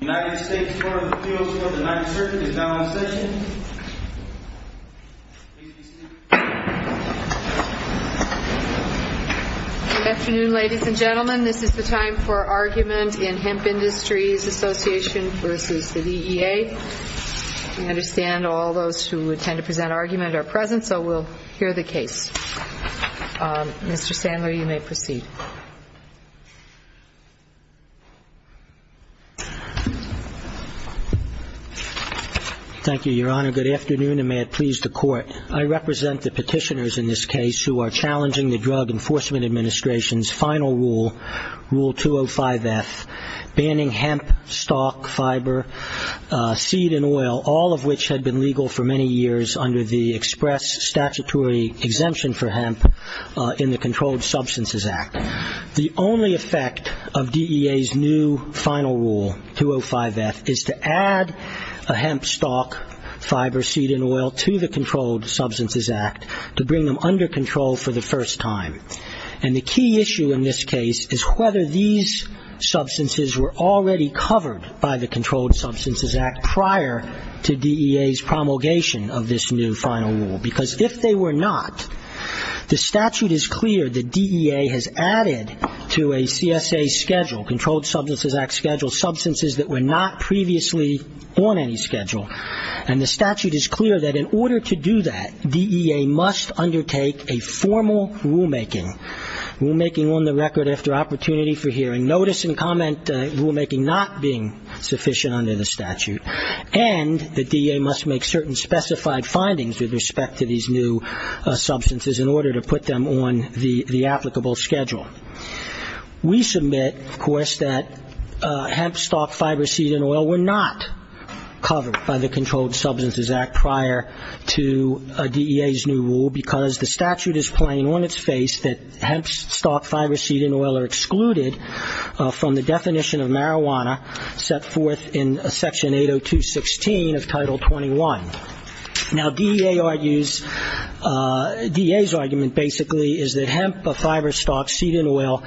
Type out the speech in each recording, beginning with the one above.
Good afternoon ladies and gentlemen, this is the time for argument in Hemp Industries Association v. DEA. We understand all those who intend to present argument are present, so we'll hear the case. Mr. Sandler, you may proceed. Thank you, Your Honor. Good afternoon and may it please the Court. I represent the petitioners in this case who are challenging the Drug Enforcement Administration's final rule, Rule 205F, banning hemp, stock, fiber, seed and oil, all of which had been legal for many years under the express statutory exemption for hemp in the Controlled Substances Act. The only effect of DEA's new final rule, 205F, is to add a hemp, stock, fiber, seed and oil to the Controlled Substances Act to bring them under control for the first time. And the key issue in this case is whether these substances were already covered by the Controlled Substances Act prior to DEA's promulgation of this new final rule. Because if they were not, the statute is clear that DEA has added to a CSA schedule, Controlled Substances Act schedule, substances that were not previously on any schedule. And the statute is clear that in order to do that, DEA must undertake a formal rulemaking, rulemaking on the record after opportunity for hearing, notice and comment rulemaking not being sufficient under the statute, and the DEA must make certain specified findings with respect to these new substances in order to put them on the applicable schedule. We submit, of course, that hemp, stock, fiber, seed and oil were not covered by the Controlled Substances Act prior to DEA's new rule because the statute is plain on its face that hemp, stock, fiber, seed and oil are excluded from the definition of marijuana set forth in Section 802.16 of Title 21. Now DEA argues, DEA's argument basically is that hemp, fiber, stock, seed and oil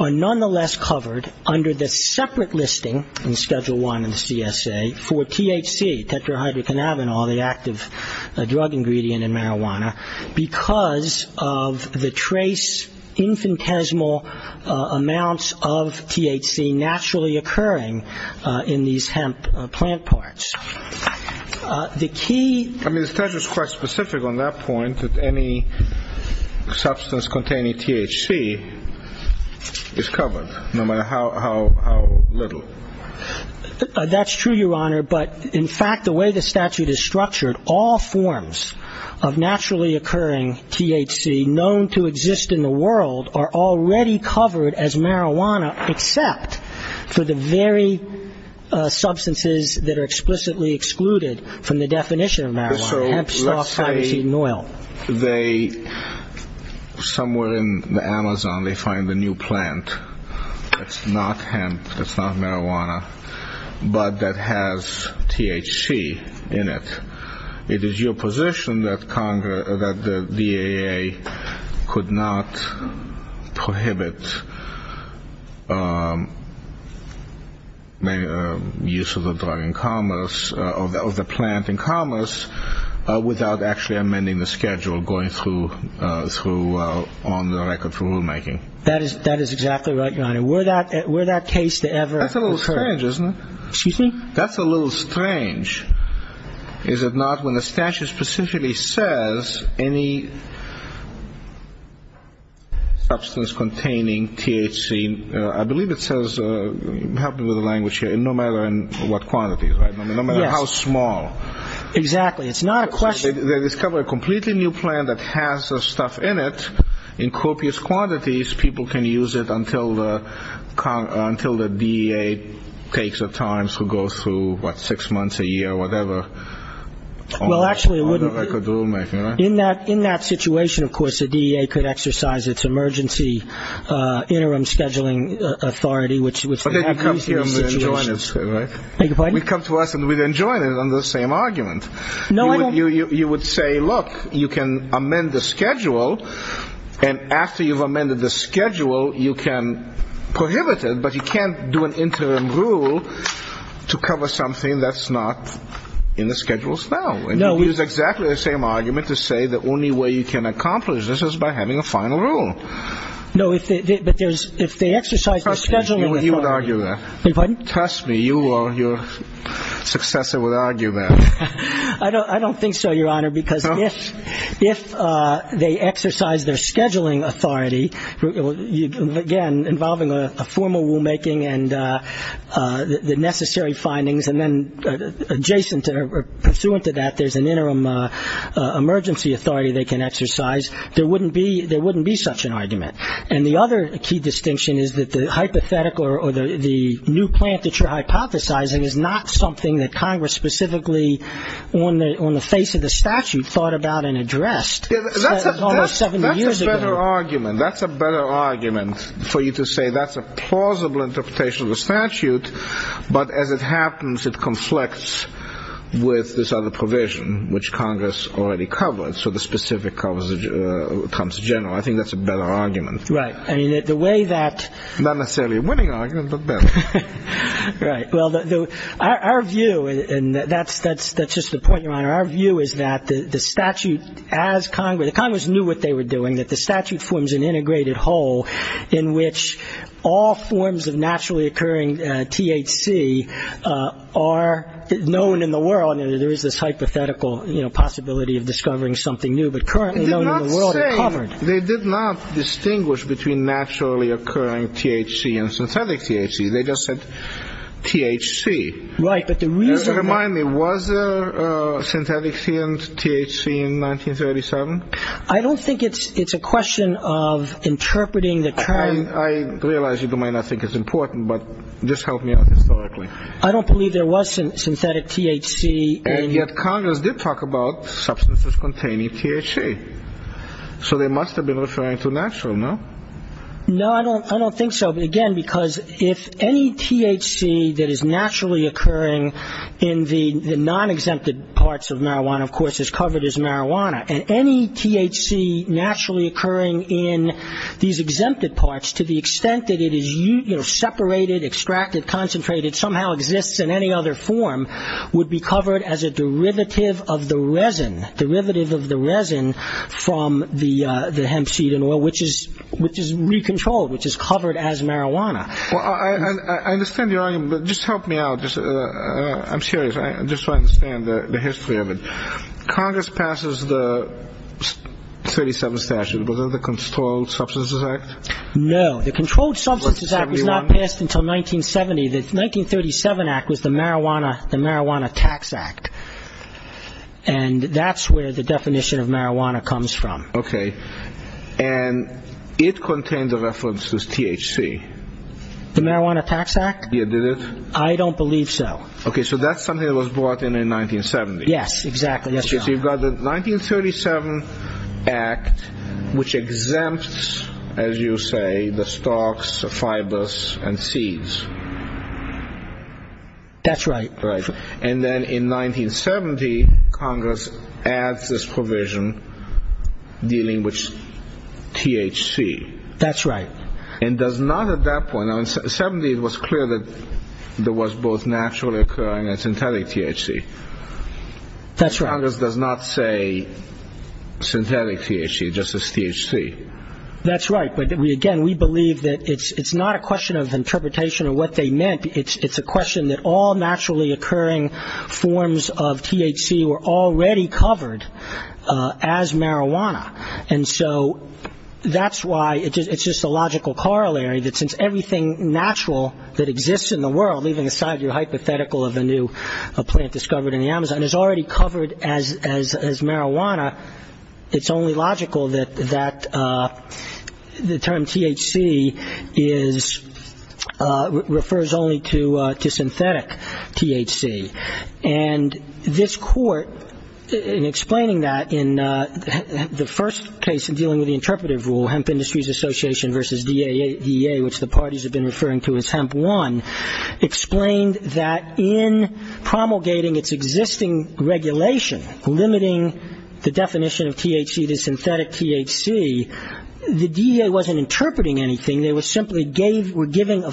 are nonetheless covered under the separate listing in Schedule 1 of the CSA for THC, tetrahydrocannabinol, the active drug ingredient in marijuana, because of the trace infinitesimal amounts of THC naturally occurring in these hemp plant parts. I mean, the statute is quite specific on that point that any substance containing THC is covered, no matter how little. That's true, Your Honor, but in fact the way the statute is structured, all forms of naturally occurring THC known to exist in the world are already covered as marijuana except for the very substances that are explicitly excluded from the definition of marijuana, hemp, stock, fiber, seed and oil. So let's say somewhere in the Amazon they find a new plant that's not hemp, that's not marijuana, but that has THC in it. It is your position that the DEA could not prohibit use of the drug in commerce, of the plant in commerce, without actually amending the schedule going through on the record for rulemaking? That is exactly right, Your Honor. Were that case to ever occur. That's a little strange, isn't it? Excuse me? That's a little strange. Is it not when the statute specifically says any substance containing THC, I believe it says, help me with the language here, no matter in what quantity, right? No matter how small. Exactly. It's not a question. They discover a completely new plant that has the stuff in it in copious quantities. People can use it until the DEA takes the time to go through, what, six months, a year, whatever, on the record rulemaking, right? In that situation, of course, the DEA could exercise its emergency interim scheduling authority, which would have to be used in this situation. We come to us and we then join it on the same argument. You would say, look, you can amend the schedule, and after you've amended the schedule, you can prohibit it, but you can't do an interim rule to cover something that's not in the schedules now. And you'd use exactly the same argument to say the only way you can accomplish this is by having a final rule. No, but if they exercise their scheduling authority. Pardon? I don't think so, Your Honor, because if they exercise their scheduling authority, again, involving a formal rulemaking and the necessary findings and then adjacent or pursuant to that there's an interim emergency authority they can exercise, there wouldn't be such an argument. And the other key distinction is that the hypothetical or the new plant that you're hypothesizing is not something that Congress specifically on the face of the statute thought about and addressed almost 70 years ago. That's a better argument. That's a better argument for you to say that's a plausible interpretation of the statute, but as it happens, it conflicts with this other provision, which Congress already covered, so the specific comes in general. I think that's a better argument. Right. I mean, the way that... Not necessarily a winning argument, but better. Right. Well, our view, and that's just the point, Your Honor. Our view is that the statute as Congress... The Congress knew what they were doing, that the statute forms an integrated whole in which all forms of naturally occurring THC are known in the world. There is this hypothetical possibility of discovering something new, but currently known in the world are covered. They did not distinguish between naturally occurring THC and synthetic THC. They just said THC. Right, but the reason... Remind me, was there synthetic THC in 1937? I don't think it's a question of interpreting the term... I realize you might not think it's important, but just help me out historically. I don't believe there was synthetic THC in... And yet Congress did talk about substances containing THC, so they must have been referring to natural, no? No, I don't think so. Again, because if any THC that is naturally occurring in the non-exempted parts of marijuana, of course, is covered as marijuana, and any THC naturally occurring in these exempted parts to the extent that it is, you know, separated, extracted, concentrated, somehow exists in any other form, would be covered as a derivative of the resin, derivative of the resin from the hemp seed in oil, which is re-controlled, which is covered as marijuana. Well, I understand your argument, but just help me out. I'm serious, just so I understand the history of it. Congress passes the 37th statute. Was that the Controlled Substances Act? No, the Controlled Substances Act was not passed until 1970. The 1937 Act was the Marijuana Tax Act. And that's where the definition of marijuana comes from. Okay. And it contains a reference to THC. The Marijuana Tax Act? Yeah, did it? I don't believe so. Okay, so that's something that was brought in in 1970. Yes, exactly. So you've got the 1937 Act, which exempts, as you say, the stalks, the fibers, and seeds. That's right. And then in 1970, Congress adds this provision dealing with THC. That's right. And does not at that point, in 1970 it was clear that there was both natural occurring and synthetic THC. That's right. Congress does not say synthetic THC, it just says THC. That's right. But, again, we believe that it's not a question of interpretation or what they meant. It's a question that all naturally occurring forms of THC were already covered as marijuana. And so that's why it's just a logical corollary that since everything natural that exists in the world, leaving aside your hypothetical of a new plant discovered in the Amazon, is already covered as marijuana, it's only logical that the term THC refers only to synthetic THC. And this Court, in explaining that in the first case in dealing with the interpretive rule, Hemp Industries Association versus DEA, which the parties have been referring to as Hemp One, explained that in promulgating its existing regulation, limiting the definition of THC to synthetic THC, the DEA wasn't interpreting anything. They were simply giving,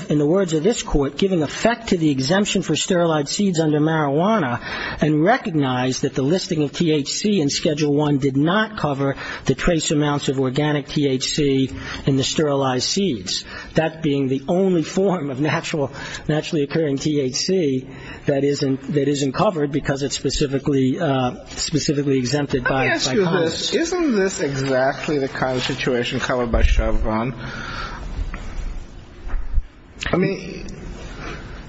in the words of this Court, giving effect to the exemption for sterilized seeds under marijuana and recognized that the listing of THC in Schedule I did not cover the trace amounts of organic THC in the sterilized seeds. That being the only form of naturally occurring THC that isn't covered because it's specifically exempted by Congress. Let me ask you this. Isn't this exactly the kind of situation covered by Chevron? I mean...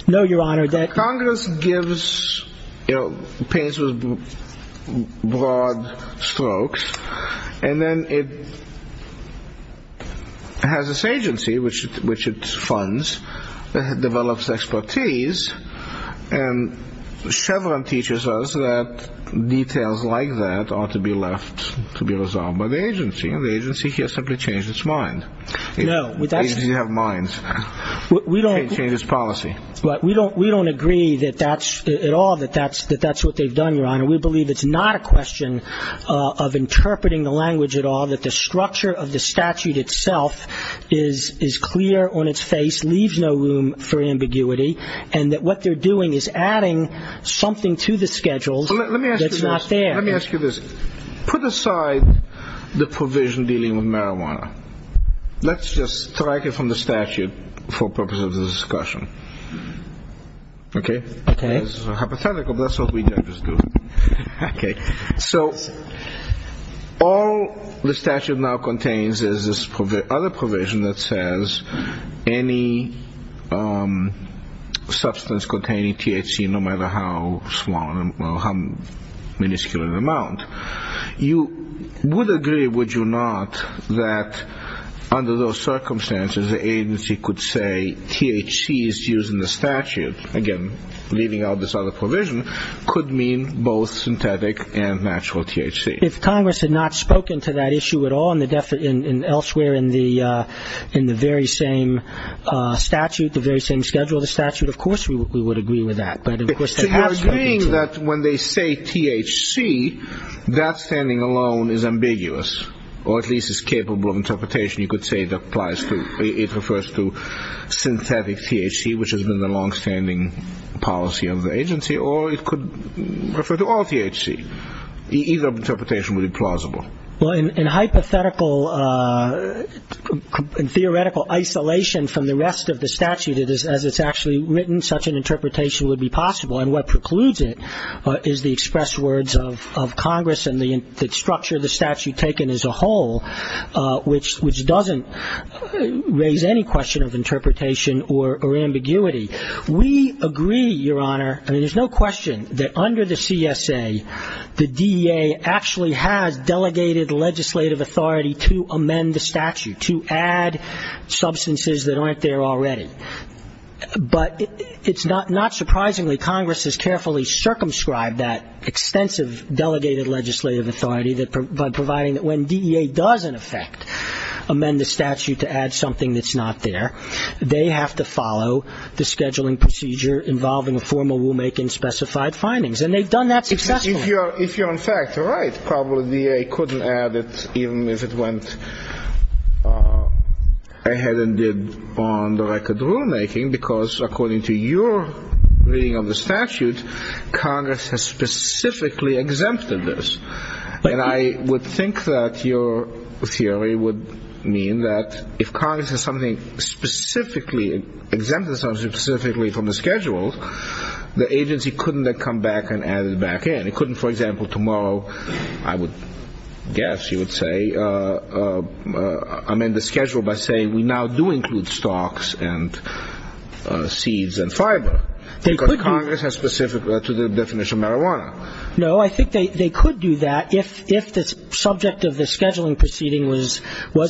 No, Your Honor, that... Congress gives opinions with broad strokes, and then it has this agency, which it funds, that develops expertise, and Chevron teaches us that details like that ought to be left to be resolved by the agency, and the agency here simply changed its mind. No, that's... The agency has minds. We don't... It changed its policy. We don't agree at all that that's what they've done, Your Honor. We believe it's not a question of interpreting the language at all, that the structure of the statute itself is clear on its face, leaves no room for ambiguity, and that what they're doing is adding something to the schedules that's not there. Let me ask you this. Put aside the provision dealing with marijuana. Let's just strike it from the statute for purposes of the discussion. Okay? Okay. This is hypothetical, but that's what we just do. Okay. So all the statute now contains is this other provision that says any substance containing THC, no matter how small or how miniscule an amount, you would agree, would you not, that under those circumstances, the agency could say THC is used in the statute, again, leaving out this other provision, could mean both synthetic and natural THC? If Congress had not spoken to that issue at all, and elsewhere in the very same statute, the very same schedule of the statute, of course we would agree with that. So you're agreeing that when they say THC, that standing alone is ambiguous, or at least is capable of interpretation. You could say it applies to... which has been the longstanding policy of the agency, or it could refer to all THC. Either interpretation would be plausible. Well, in hypothetical and theoretical isolation from the rest of the statute, as it's actually written, such an interpretation would be possible. And what precludes it is the express words of Congress and the structure of the statute taken as a whole, which doesn't raise any question of interpretation or ambiguity. We agree, Your Honor, I mean, there's no question that under the CSA, the DEA actually has delegated legislative authority to amend the statute, to add substances that aren't there already. But it's not surprisingly Congress has carefully circumscribed that extensive delegated legislative authority, by providing that when DEA does in effect amend the statute to add something that's not there, they have to follow the scheduling procedure involving a formal rulemaking and specified findings. And they've done that successfully. If you're in fact right, probably DEA couldn't add it, even if it went ahead and did on the record rulemaking, because according to your reading of the statute, Congress has specifically exempted this. And I would think that your theory would mean that if Congress has something specifically exempted from the schedule, the agency couldn't then come back and add it back in. It couldn't, for example, tomorrow, I would guess you would say, amend the schedule by saying we now do include stocks and seeds and fiber, because Congress has specific to the definition of marijuana. No, I think they could do that if the subject of the scheduling proceeding was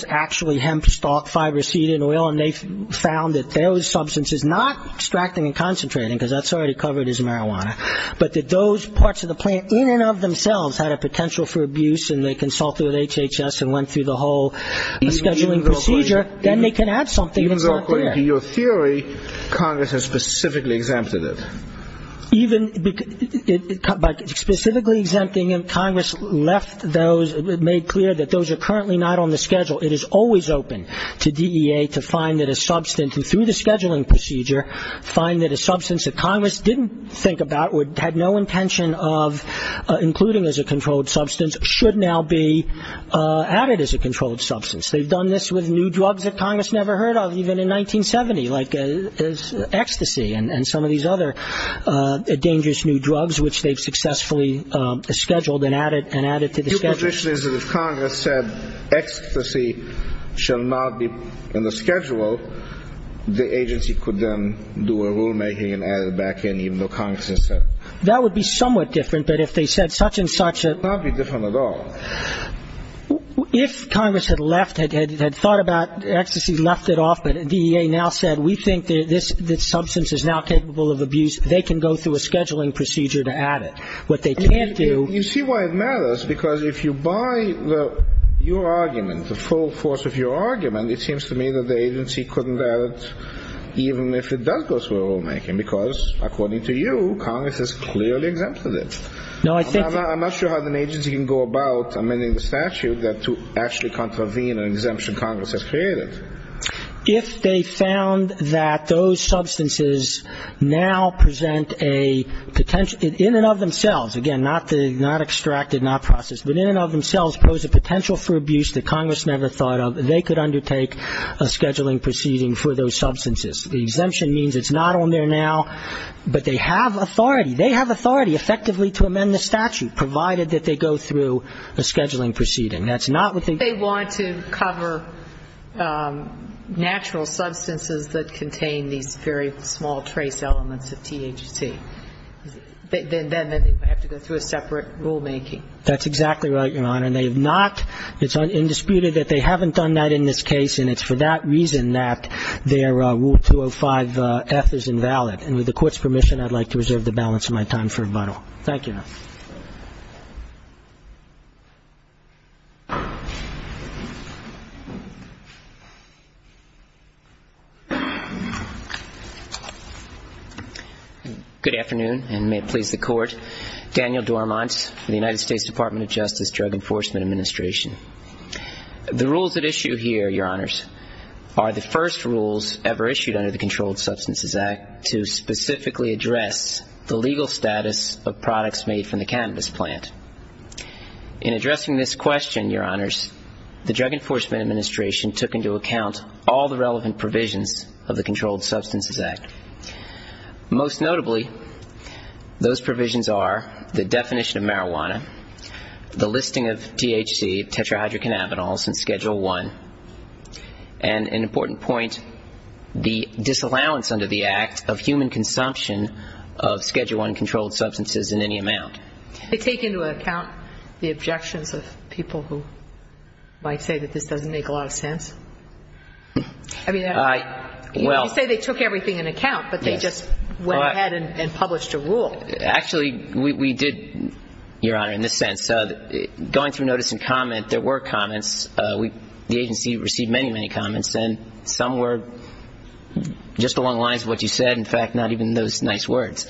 actually hemp stock, fiber, seed, and oil, and they found that those substances, not extracting and concentrating, because that's already covered as marijuana, but that those parts of the plant in and of themselves had a potential for abuse and they consulted with HHS and went through the whole scheduling procedure, then they can add something that's not there. Even though according to your theory, Congress has specifically exempted it. Even by specifically exempting it, Congress left those, made clear that those are currently not on the schedule. It is always open to DEA to find that a substance, and through the scheduling procedure, find that a substance that Congress didn't think about, had no intention of including as a controlled substance, should now be added as a controlled substance. They've done this with new drugs that Congress never heard of, even in 1970, like ecstasy and some of these other dangerous new drugs, which they've successfully scheduled and added to the schedule. Your position is that if Congress said ecstasy shall not be in the schedule, the agency could then do a rulemaking and add it back in, even though Congress has said it. That would be somewhat different, but if they said such and such. It would not be different at all. If Congress had left, had thought about ecstasy, left it off, but DEA now said we think this substance is now capable of abuse, they can go through a scheduling procedure to add it. What they can't do. You see why it matters, because if you buy your argument, the full force of your argument, it seems to me that the agency couldn't add it, even if it does go through a rulemaking, because according to you, Congress has clearly exempted it. No, I think. I'm not sure how an agency can go about amending the statute to actually contravene an exemption Congress has created. If they found that those substances now present a potential, in and of themselves, again, not extracted, not processed, but in and of themselves pose a potential for abuse that Congress never thought of, they could undertake a scheduling proceeding for those substances. The exemption means it's not on there now, but they have authority. They have authority effectively to amend the statute, provided that they go through a scheduling proceeding. They want to cover natural substances that contain these very small trace elements of THC. Then they have to go through a separate rulemaking. That's exactly right, Your Honor. They have not. It's undisputed that they haven't done that in this case, and it's for that reason that their Rule 205F is invalid. And with the Court's permission, I'd like to reserve the balance of my time for rebuttal. Thank you. Thank you, Your Honor. Good afternoon, and may it please the Court. Daniel Dormont for the United States Department of Justice Drug Enforcement Administration. The rules at issue here, Your Honors, are the first rules ever issued under the Controlled Substances Act to specifically address the legal status of products made from the cannabis plant. In addressing this question, Your Honors, the Drug Enforcement Administration took into account all the relevant provisions of the Controlled Substances Act. Most notably, those provisions are the definition of marijuana, the listing of THC, tetrahydrocannabinols, in Schedule I, and an important point, the disallowance under the Act of human consumption of Schedule I controlled substances in any amount. They take into account the objections of people who might say that this doesn't make a lot of sense? I mean, you say they took everything into account, but they just went ahead and published a rule. Actually, we did, Your Honor, in this sense. Going through notice and comment, there were comments. The agency received many, many comments, and some were just along the lines of what you said. In fact, not even those nice words.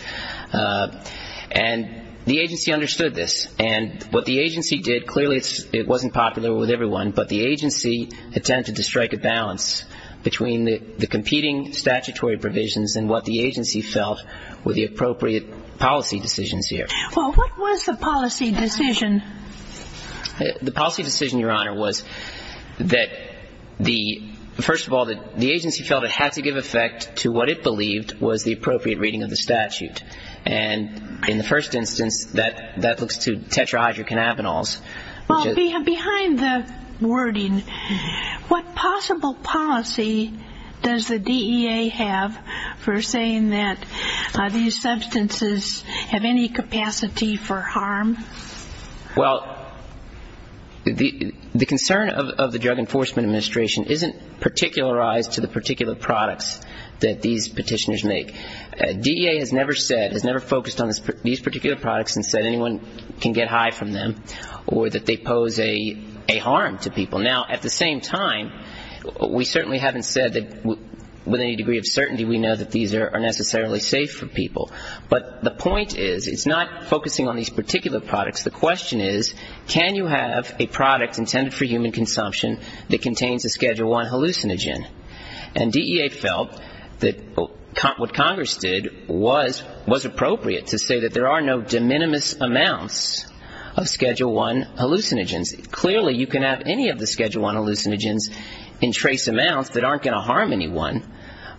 And the agency understood this. And what the agency did, clearly it wasn't popular with everyone, but the agency attempted to strike a balance between the competing statutory provisions and what the agency felt were the appropriate policy decisions here. Well, what was the policy decision? The policy decision, Your Honor, was that the – first of all, the agency felt it had to give effect to what it believed was the appropriate reading of the statute. And in the first instance, that looks to tetrahydrocannabinols. Well, behind the wording, what possible policy does the DEA have for saying that these substances have any capacity for harm? Well, the concern of the Drug Enforcement Administration isn't particularized to the particular products that these petitioners make. DEA has never said, has never focused on these particular products and said anyone can get high from them or that they pose a harm to people. Now, at the same time, we certainly haven't said that with any degree of certainty we know that these are necessarily safe for people. But the point is, it's not focusing on these particular products. The question is, can you have a product intended for human consumption that contains a Schedule I hallucinogen? And DEA felt that what Congress did was appropriate to say that there are no de minimis amounts of Schedule I hallucinogens. Clearly, you can have any of the Schedule I hallucinogens in trace amounts that aren't going to harm anyone,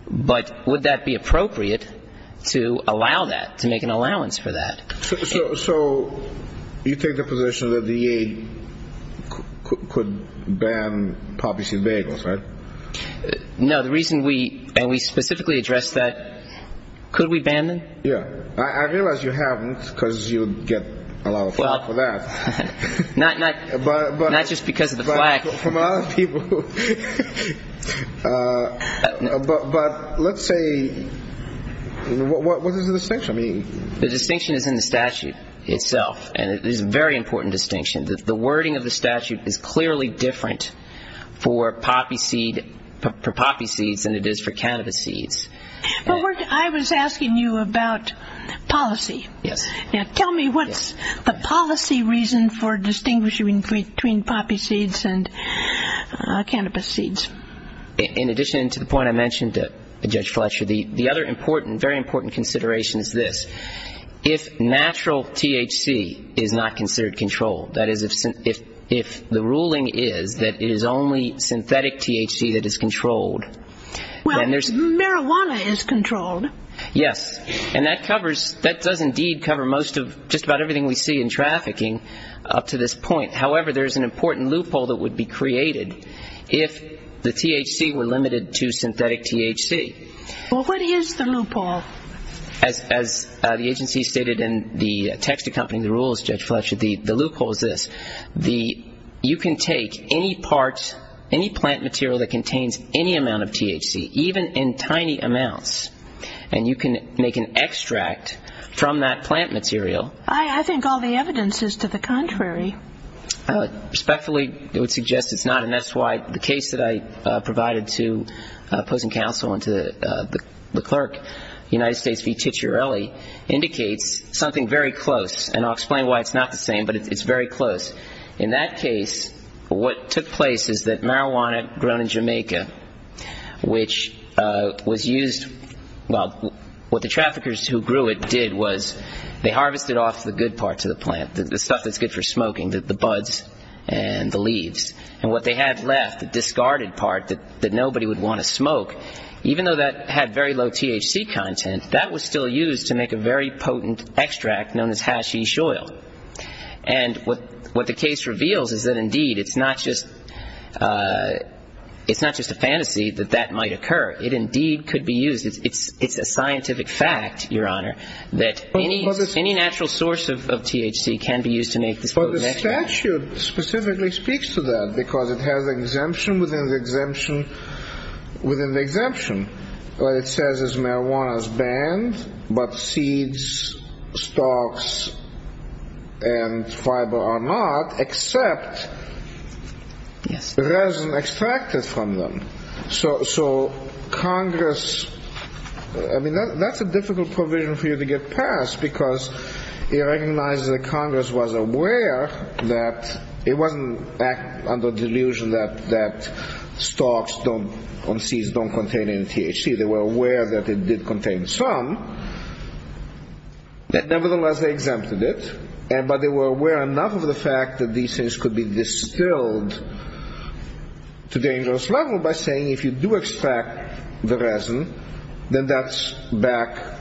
but would that be appropriate to allow that, to make an allowance for that? So you take the position that the DEA could ban poppy seed bagels, right? No. The reason we, and we specifically addressed that, could we ban them? Yeah. I realize you haven't because you would get a lot of flack for that. Not just because of the flack. From other people. But let's say, what does the distinction mean? The distinction is in the statute itself, and it is a very important distinction. The wording of the statute is clearly different for poppy seeds than it is for cannabis seeds. I was asking you about policy. Yes. Now, tell me, what's the policy reason for distinguishing between poppy seeds and cannabis seeds? In addition to the point I mentioned to Judge Fletcher, the other important, very important consideration is this. If natural THC is not considered controlled, that is if the ruling is that it is only synthetic THC that is controlled. Well, marijuana is controlled. Yes. And that covers, that does indeed cover most of, just about everything we see in trafficking up to this point. However, there is an important loophole that would be created if the THC were limited to synthetic THC. Well, what is the loophole? As the agency stated in the text accompanying the rules, Judge Fletcher, the loophole is this. The, you can take any part, any plant material that contains any amount of THC, even in tiny amounts, and you can make an extract from that plant material. I think all the evidence is to the contrary. Respectfully, it would suggest it's not, and that's why the case that I provided to opposing counsel and to the clerk, United States v. Ticciarelli, indicates something very close. And I'll explain why it's not the same, but it's very close. which was used, well, what the traffickers who grew it did was they harvested off the good parts of the plant, the stuff that's good for smoking, the buds and the leaves. And what they had left, the discarded part that nobody would want to smoke, even though that had very low THC content, that was still used to make a very potent extract known as hashish oil. And what the case reveals is that, indeed, it's not just a fantasy that that might occur. It indeed could be used. It's a scientific fact, Your Honor, that any natural source of THC can be used to make this potent extract. But the statute specifically speaks to that, because it has an exemption within the exemption. What it says is marijuana is banned, but seeds, stalks, and fiber are not, except resin extracted from them. So Congress, I mean, that's a difficult provision for you to get past, because it recognizes that Congress was aware that it wasn't under delusion that stalks on seeds don't contain any THC. They were aware that it did contain some. Nevertheless, they exempted it. But they were aware enough of the fact that these things could be distilled to dangerous level by saying, if you do extract the resin, then that's back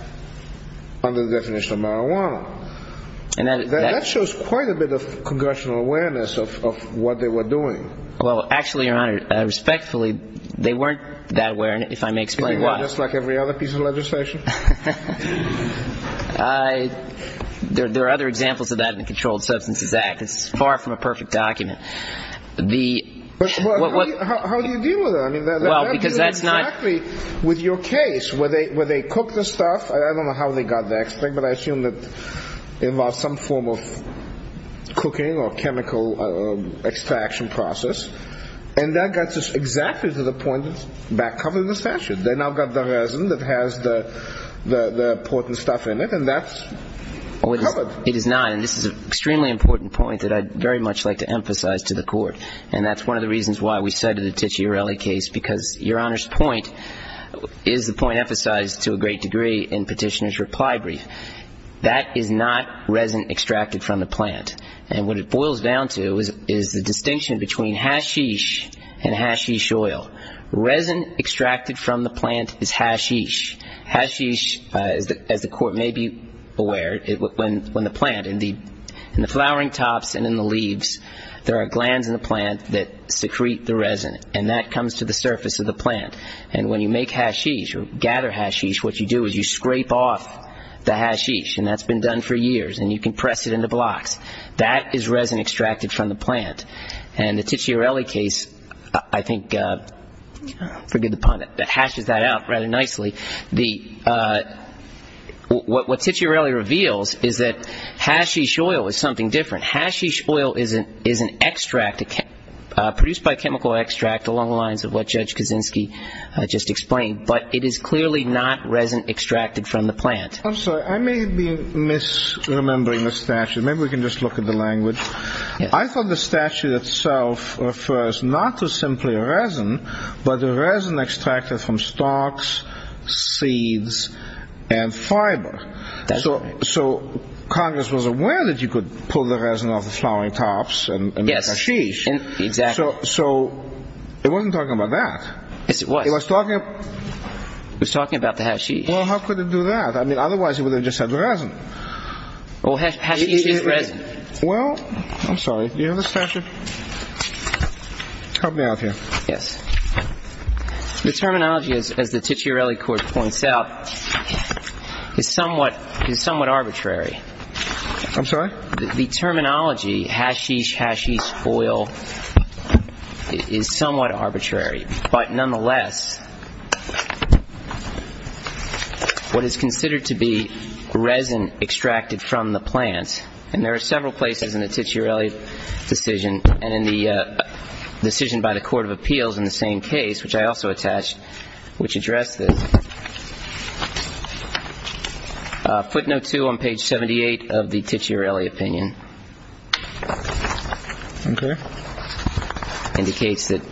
under the definition of marijuana. And that shows quite a bit of congressional awareness of what they were doing. Well, actually, Your Honor, respectfully, they weren't that aware, and if I may explain why. Just like every other piece of legislation? There are other examples of that in the Controlled Substances Act. It's far from a perfect document. How do you deal with that? I mean, that has to do exactly with your case, where they cook the stuff. I don't know how they got the extract, but I assume it involves some form of cooking or chemical extraction process. And that gets us exactly to the point of back-covering the statute. They now got the resin that has the potent stuff in it, and that's covered. It is not, and this is an extremely important point that I'd very much like to emphasize to the Court. And that's one of the reasons why we cited the Ticciarelli case, because Your Honor's point is the point emphasized to a great degree in Petitioner's reply brief. That is not resin extracted from the plant. And what it boils down to is the distinction between hashish and hashish oil. Resin extracted from the plant is hashish. Hashish, as the Court may be aware, when the plant, in the flowering tops and in the leaves, there are glands in the plant that secrete the resin, and that comes to the surface of the plant. And when you make hashish or gather hashish, what you do is you scrape off the hashish, and that's been done for years, and you can press it into blocks. That is resin extracted from the plant. And the Ticciarelli case, I think, forgive the pun, hashes that out rather nicely. What Ticciarelli reveals is that hashish oil is something different. Hashish oil is an extract produced by chemical extract along the lines of what Judge Kaczynski just explained, but it is clearly not resin extracted from the plant. I'm sorry. I may be misremembering the statute. Maybe we can just look at the language. I thought the statute itself refers not to simply resin, but the resin extracted from stalks, seeds, and fiber. So Congress was aware that you could pull the resin off the flowering tops and make hashish. Yes, exactly. So it wasn't talking about that. Yes, it was. It was talking about the hashish. Well, how could it do that? I mean, otherwise it would have just said resin. Well, hashish is resin. Well, I'm sorry. Do you have the statute? Help me out here. Yes. The terminology, as the Ticciarelli court points out, is somewhat arbitrary. I'm sorry? The terminology, hashish, hashish oil, is somewhat arbitrary. But nonetheless, what is considered to be resin extracted from the plant, and there are several places in the Ticciarelli decision and in the decision by the Court of Appeals in the same case, which I also attached, which addressed this. Footnote two on page 78 of the Ticciarelli opinion. Okay. Indicates that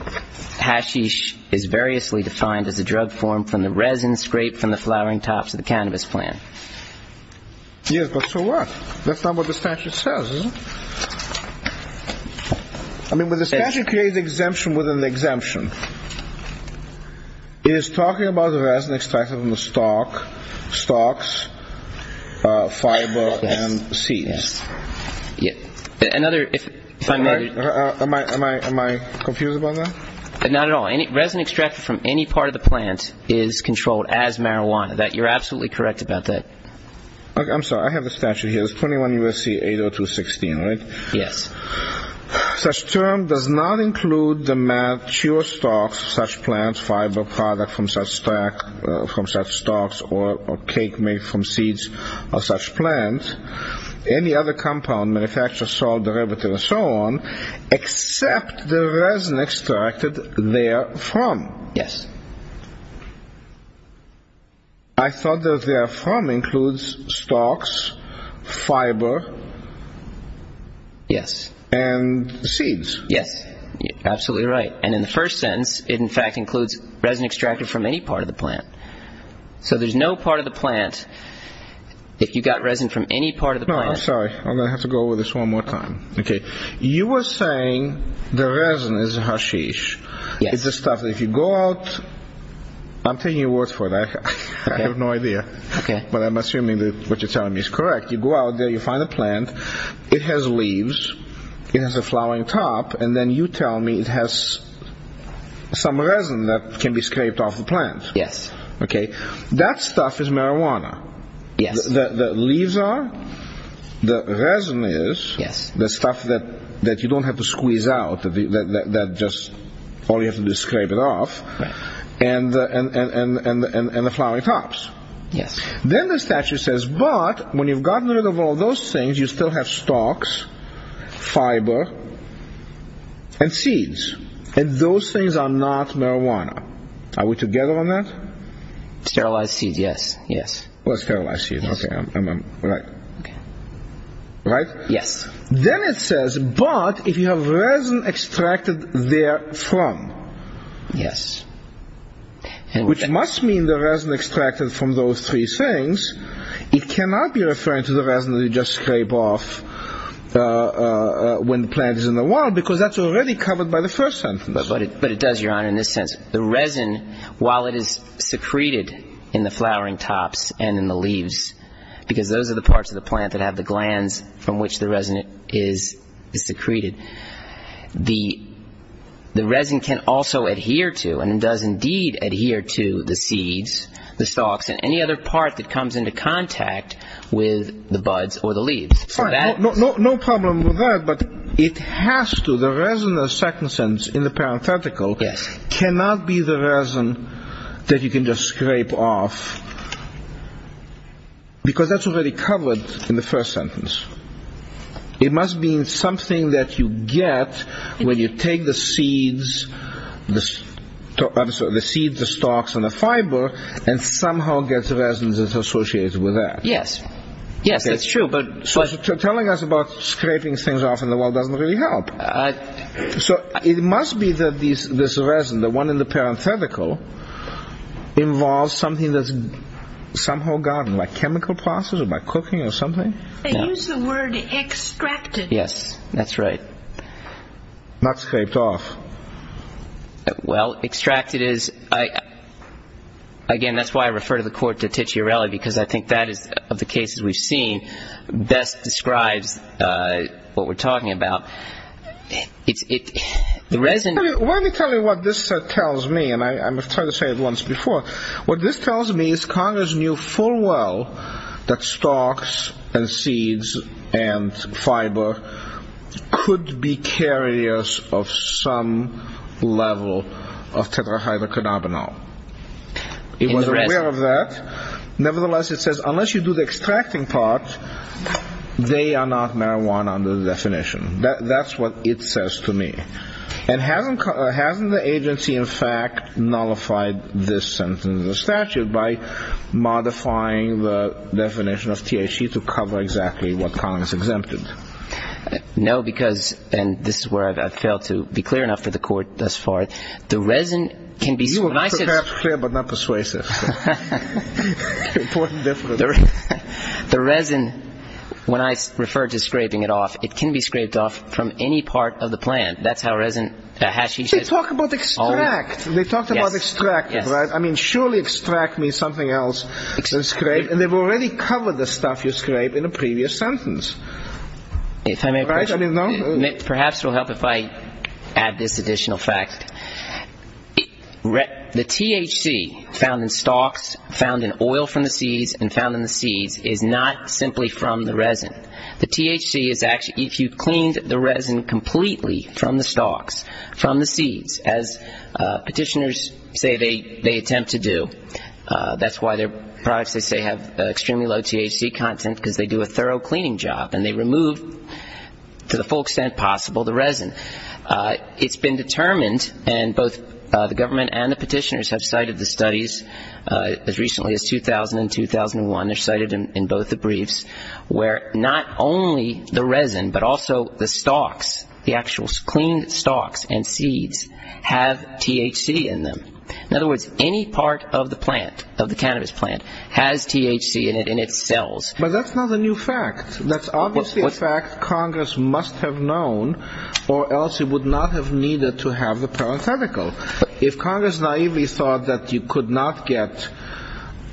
hashish is variously defined as a drug formed from the resin scraped from the flowering tops of the cannabis plant. Yes, but so what? That's not what the statute says, is it? I mean, when the statute creates exemption within the exemption, it is talking about the resin extracted from the stalks, fiber, and seeds. Another, if I may. Am I confused about that? Not at all. Resin extracted from any part of the plant is controlled as marijuana. You're absolutely correct about that. Okay, I'm sorry. I have the statute here. It's 21 U.S.C. 80216, right? Yes. Such term does not include the mature stalks of such plants, fiber product from such stalks, or cake made from seeds of such plants, any other compound, manufacture, salt derivative, and so on, except the resin extracted therefrom. Yes. I thought that therefrom includes stalks, fiber, and seeds. Yes, you're absolutely right. And in the first sentence, it in fact includes resin extracted from any part of the plant. So there's no part of the plant, if you got resin from any part of the plant. No, I'm sorry. I'm going to have to go over this one more time. Okay. You were saying the resin is hashish. Yes. It's the stuff that if you go out, I'm taking your words for it. I have no idea. Okay. But I'm assuming that what you're telling me is correct. You go out there, you find a plant. It has leaves. It has a flowering top. And then you tell me it has some resin that can be scraped off the plant. Yes. Okay. That stuff is marijuana. Yes. The leaves are. The resin is. Yes. The stuff that you don't have to squeeze out, that just all you have to do is scrape it off. Right. And the flowering tops. Yes. Then the statute says, but when you've gotten rid of all those things, you still have stalks, fiber, and seeds. And those things are not marijuana. Are we together on that? Sterilized seeds, yes. Yes. Sterilized seeds. Yes. Okay. Right? Yes. Then it says, but if you have resin extracted therefrom. Yes. Which must mean the resin extracted from those three things. It cannot be referring to the resin that you just scrape off when the plant is in the wild, because that's already covered by the first sentence. But it does, Your Honor, in this sense. The resin, while it is secreted in the flowering tops and in the leaves, because those are the parts of the plant that have the glands from which the resin is secreted, the resin can also adhere to, and it does indeed adhere to, the seeds, the stalks, and any other part that comes into contact with the buds or the leaves. Fine. No problem with that, but it has to. The resin in the second sentence in the parenthetical cannot be the resin that you can just scrape off, because that's already covered in the first sentence. It must mean something that you get when you take the seeds, the stalks and the fiber, and somehow get resins associated with that. Yes. Yes, that's true. Telling us about scraping things off in the wild doesn't really help. So it must be that this resin, the one in the parenthetical, involves something that's somehow gotten, like chemical process or by cooking or something? They use the word extracted. Yes, that's right. Not scraped off. Well, extracted is, again, that's why I refer to the court to Ticciarelli, because I think that is, of the cases we've seen, best describes what we're talking about. Let me tell you what this tells me, and I'm going to try to say it once before. What this tells me is Congress knew full well that stalks and seeds and fiber could be carriers of some level of tetrahydrocannabinol. It was aware of that. Nevertheless, it says unless you do the extracting part, they are not marijuana under the definition. That's what it says to me. And hasn't the agency, in fact, nullified this sentence in the statute by modifying the definition of THC to cover exactly what Congress exempted? No, because, and this is where I've failed to be clear enough for the court thus far. You were perhaps clear but not persuasive. Important difference. The resin, when I refer to scraping it off, it can be scraped off from any part of the plant. That's how resin hashes it. They talk about extract. They talked about extract, right? I mean, surely extract means something else than scrape, and they've already covered the stuff you scrape in a previous sentence. If I may, perhaps it will help if I add this additional fact. The THC found in stalks, found in oil from the seeds, and found in the seeds is not simply from the resin. The THC is actually, if you cleaned the resin completely from the stalks, from the seeds, as petitioners say they attempt to do. That's why their products, they say, have extremely low THC content, because they do a thorough cleaning job, and they remove, to the full extent possible, the resin. It's been determined, and both the government and the petitioners have cited the studies, as recently as 2000 and 2001, they're cited in both the briefs, where not only the resin, but also the stalks, the actual cleaned stalks and seeds, have THC in them. In other words, any part of the plant, of the cannabis plant, has THC in it, and it sells. But that's not a new fact. That's obviously a fact Congress must have known, or else it would not have needed to have the parenthetical. If Congress naively thought that you could not get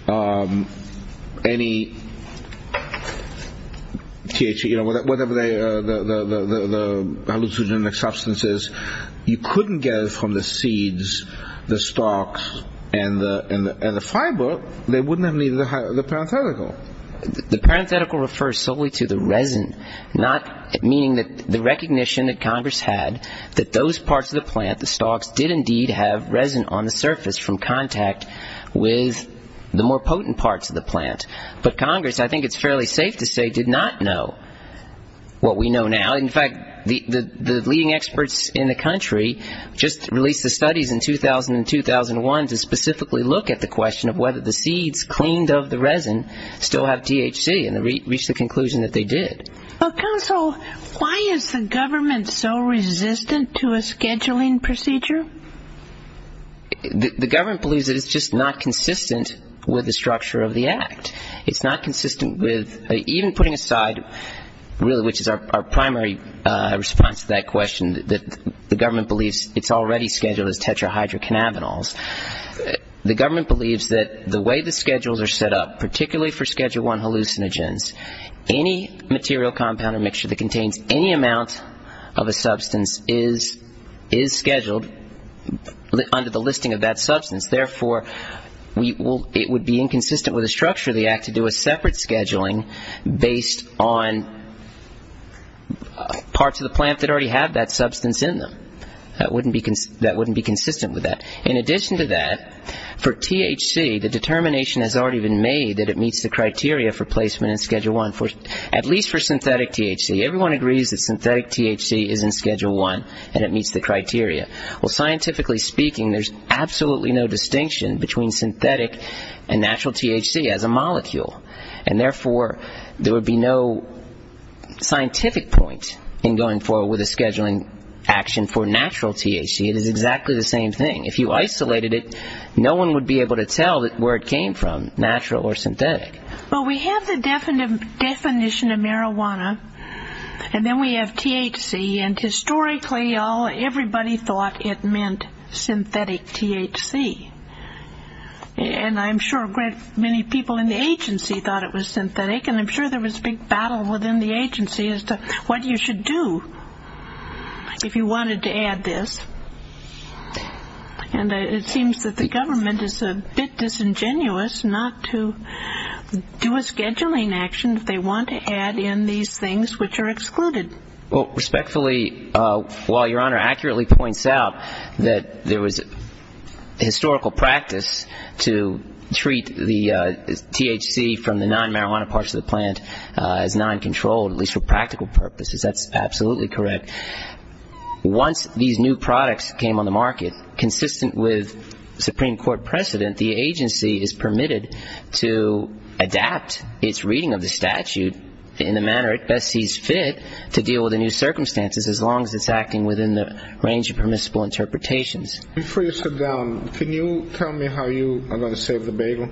any THC, whatever the hallucinogenic substance is, you couldn't get it from the seeds, the stalks, and the fiber, they wouldn't have needed the parenthetical. The parenthetical refers solely to the resin, meaning that the recognition that Congress had that those parts of the plant, the stalks, did indeed have resin on the surface from contact with the more potent parts of the plant. But Congress, I think it's fairly safe to say, did not know what we know now. In fact, the leading experts in the country just released the studies in 2000 and 2001 to specifically look at the question of whether the seeds cleaned of the resin still have THC, and they reached the conclusion that they did. Counsel, why is the government so resistant to a scheduling procedure? The government believes that it's just not consistent with the structure of the Act. It's not consistent with even putting aside really which is our primary response to that question, that the government believes it's already scheduled as tetrahydrocannabinols. The government believes that the way the schedules are set up, particularly for Schedule I hallucinogens, any material compound or mixture that contains any amount of a substance is scheduled under the listing of that substance. Therefore, it would be inconsistent with the structure of the Act to do a separate scheduling based on parts of the plant that already have that substance in them. That wouldn't be consistent with that. In addition to that, for THC, the determination has already been made that it meets the criteria for placement in Schedule I, at least for synthetic THC. Everyone agrees that synthetic THC is in Schedule I and it meets the criteria. Well, scientifically speaking, there's absolutely no distinction between synthetic and natural THC as a molecule, and therefore there would be no scientific point in going forward with a scheduling action for natural THC. It is exactly the same thing. If you isolated it, no one would be able to tell where it came from, natural or synthetic. Well, we have the definition of marijuana, and then we have THC, and historically everybody thought it meant synthetic THC. And I'm sure many people in the agency thought it was synthetic, and I'm sure there was a big battle within the agency as to what you should do if you wanted to add this. And it seems that the government is a bit disingenuous not to do a scheduling action if they want to add in these things which are excluded. Well, respectfully, while Your Honor accurately points out that there was historical practice to treat the THC from the non-marijuana parts of the plant as non-controlled, at least for practical purposes, that's absolutely correct. Once these new products came on the market, consistent with Supreme Court precedent, the agency is permitted to adapt its reading of the statute in the manner it best sees fit to deal with the new circumstances as long as it's acting within the range of permissible interpretations. Before you sit down, can you tell me how you are going to save the bagel?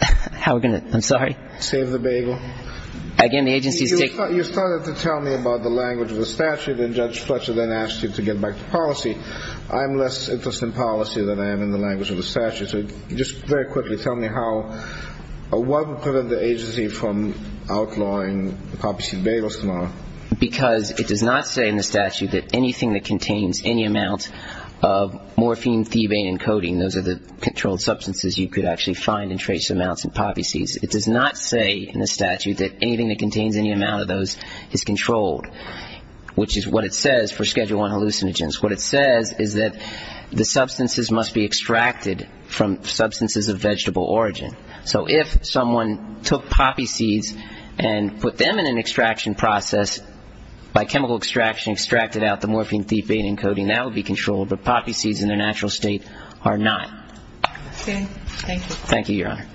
How we're going to, I'm sorry? Save the bagel. You started to tell me about the language of the statute, and Judge Fletcher then asked you to get back to policy. I'm less interested in policy than I am in the language of the statute. So just very quickly, tell me what would prevent the agency from outlawing the poppy seed bagels tomorrow? Because it does not say in the statute that anything that contains any amount of morphine, thebane, and codeine, those are the controlled substances you could actually find and trace amounts in poppy seeds. It does not say in the statute that anything that contains any amount of those is controlled, which is what it says for Schedule I hallucinogens. What it says is that the substances must be extracted from substances of vegetable origin. So if someone took poppy seeds and put them in an extraction process by chemical extraction, extracted out the morphine, thebane, and codeine, that would be controlled, but poppy seeds in their natural state are not. Okay. Thank you. Thank you, Your Honor.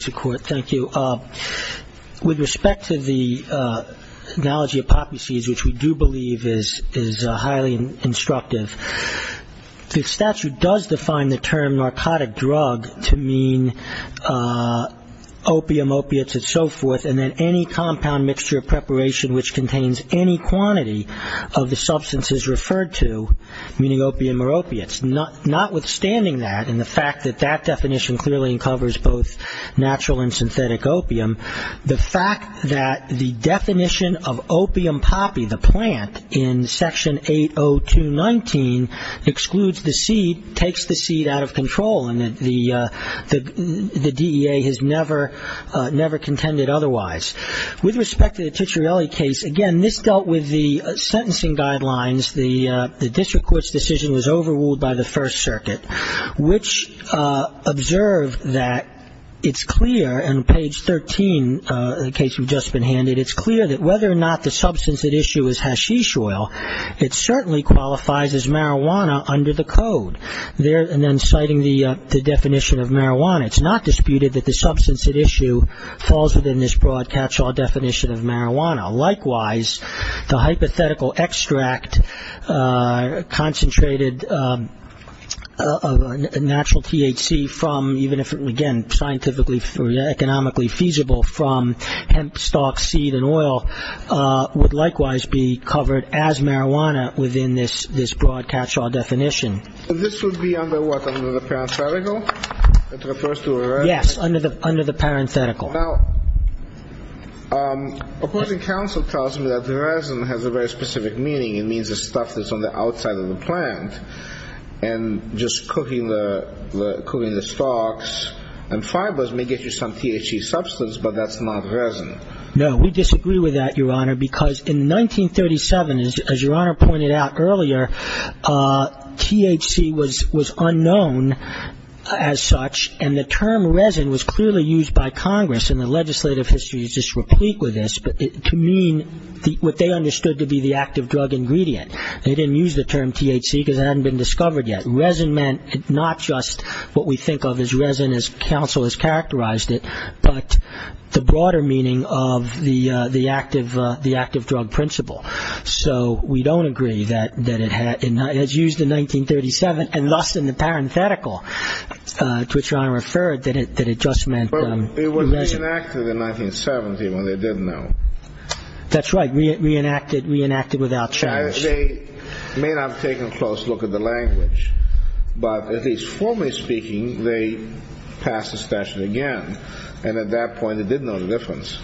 Mr. Court, thank you. With respect to the analogy of poppy seeds, which we do believe is highly instructive, the statute does define the term narcotic drug to mean opium, opiates, and so forth, and then any compound mixture of preparation which contains any quantity of the substances referred to, meaning opium or opiates. Notwithstanding that and the fact that that definition clearly uncovers both natural and synthetic opium, the fact that the definition of opium poppy, the plant, in Section 802.19 excludes the seed, takes the seed out of control, and the DEA has never contended otherwise. With respect to the Cicciarelli case, again, this dealt with the sentencing guidelines, the district court's decision was overruled by the First Circuit, which observed that it's clear in page 13, the case you've just been handed, it's clear that whether or not the substance at issue is hashish oil, it certainly qualifies as marijuana under the code. And then citing the definition of marijuana, it's not disputed that the substance at issue falls within this broad catch-all definition of marijuana. Likewise, the hypothetical extract concentrated natural THC from, again, scientifically or economically feasible from hemp stalks, seed, and oil, would likewise be covered as marijuana within this broad catch-all definition. So this would be under what, under the parenthetical? Yes, under the parenthetical. Now, opposing counsel tells me that the resin has a very specific meaning. It means the stuff that's on the outside of the plant. And just cooking the stalks and fibers may get you some THC substance, but that's not resin. No, we disagree with that, Your Honor, because in 1937, as Your Honor pointed out earlier, THC was unknown as such, and the term resin was clearly used by Congress, and the legislative history is just replete with this, to mean what they understood to be the active drug ingredient. They didn't use the term THC because it hadn't been discovered yet. Resin meant not just what we think of as resin as counsel has characterized it, but the broader meaning of the active drug principle. So we don't agree that it has used in 1937, and thus in the parenthetical to which Your Honor referred, that it just meant resin. But it was reenacted in 1970 when they didn't know. That's right. Reenacted without charge. They may not have taken a close look at the language, but at least formally speaking, they passed the statute again, and at that point they did know the difference.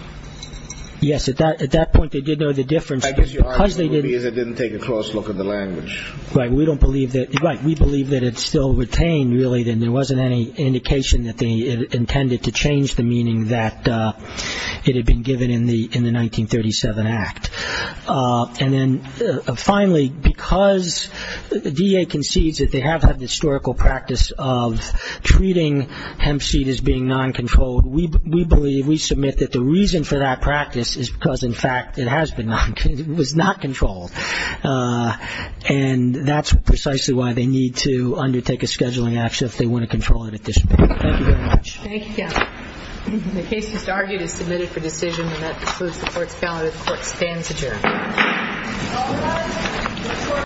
Yes, at that point they did know the difference. I guess your argument would be that they didn't take a close look at the language. Right. We believe that it's still retained, really, and there wasn't any indication that they intended to change the meaning that it had been given in the 1937 Act. And then finally, because the DEA concedes that they have had the historical practice of treating hemp seed as being non-controlled, we believe, we submit that the reason for that practice is because, in fact, it has been non-controlled, it was not controlled, and that's precisely why they need to undertake a scheduling action just if they want to control it at this point. Thank you very much. Thank you, counsel. The case is argued and submitted for decision. And that concludes the court's ballot. The court stands adjourned.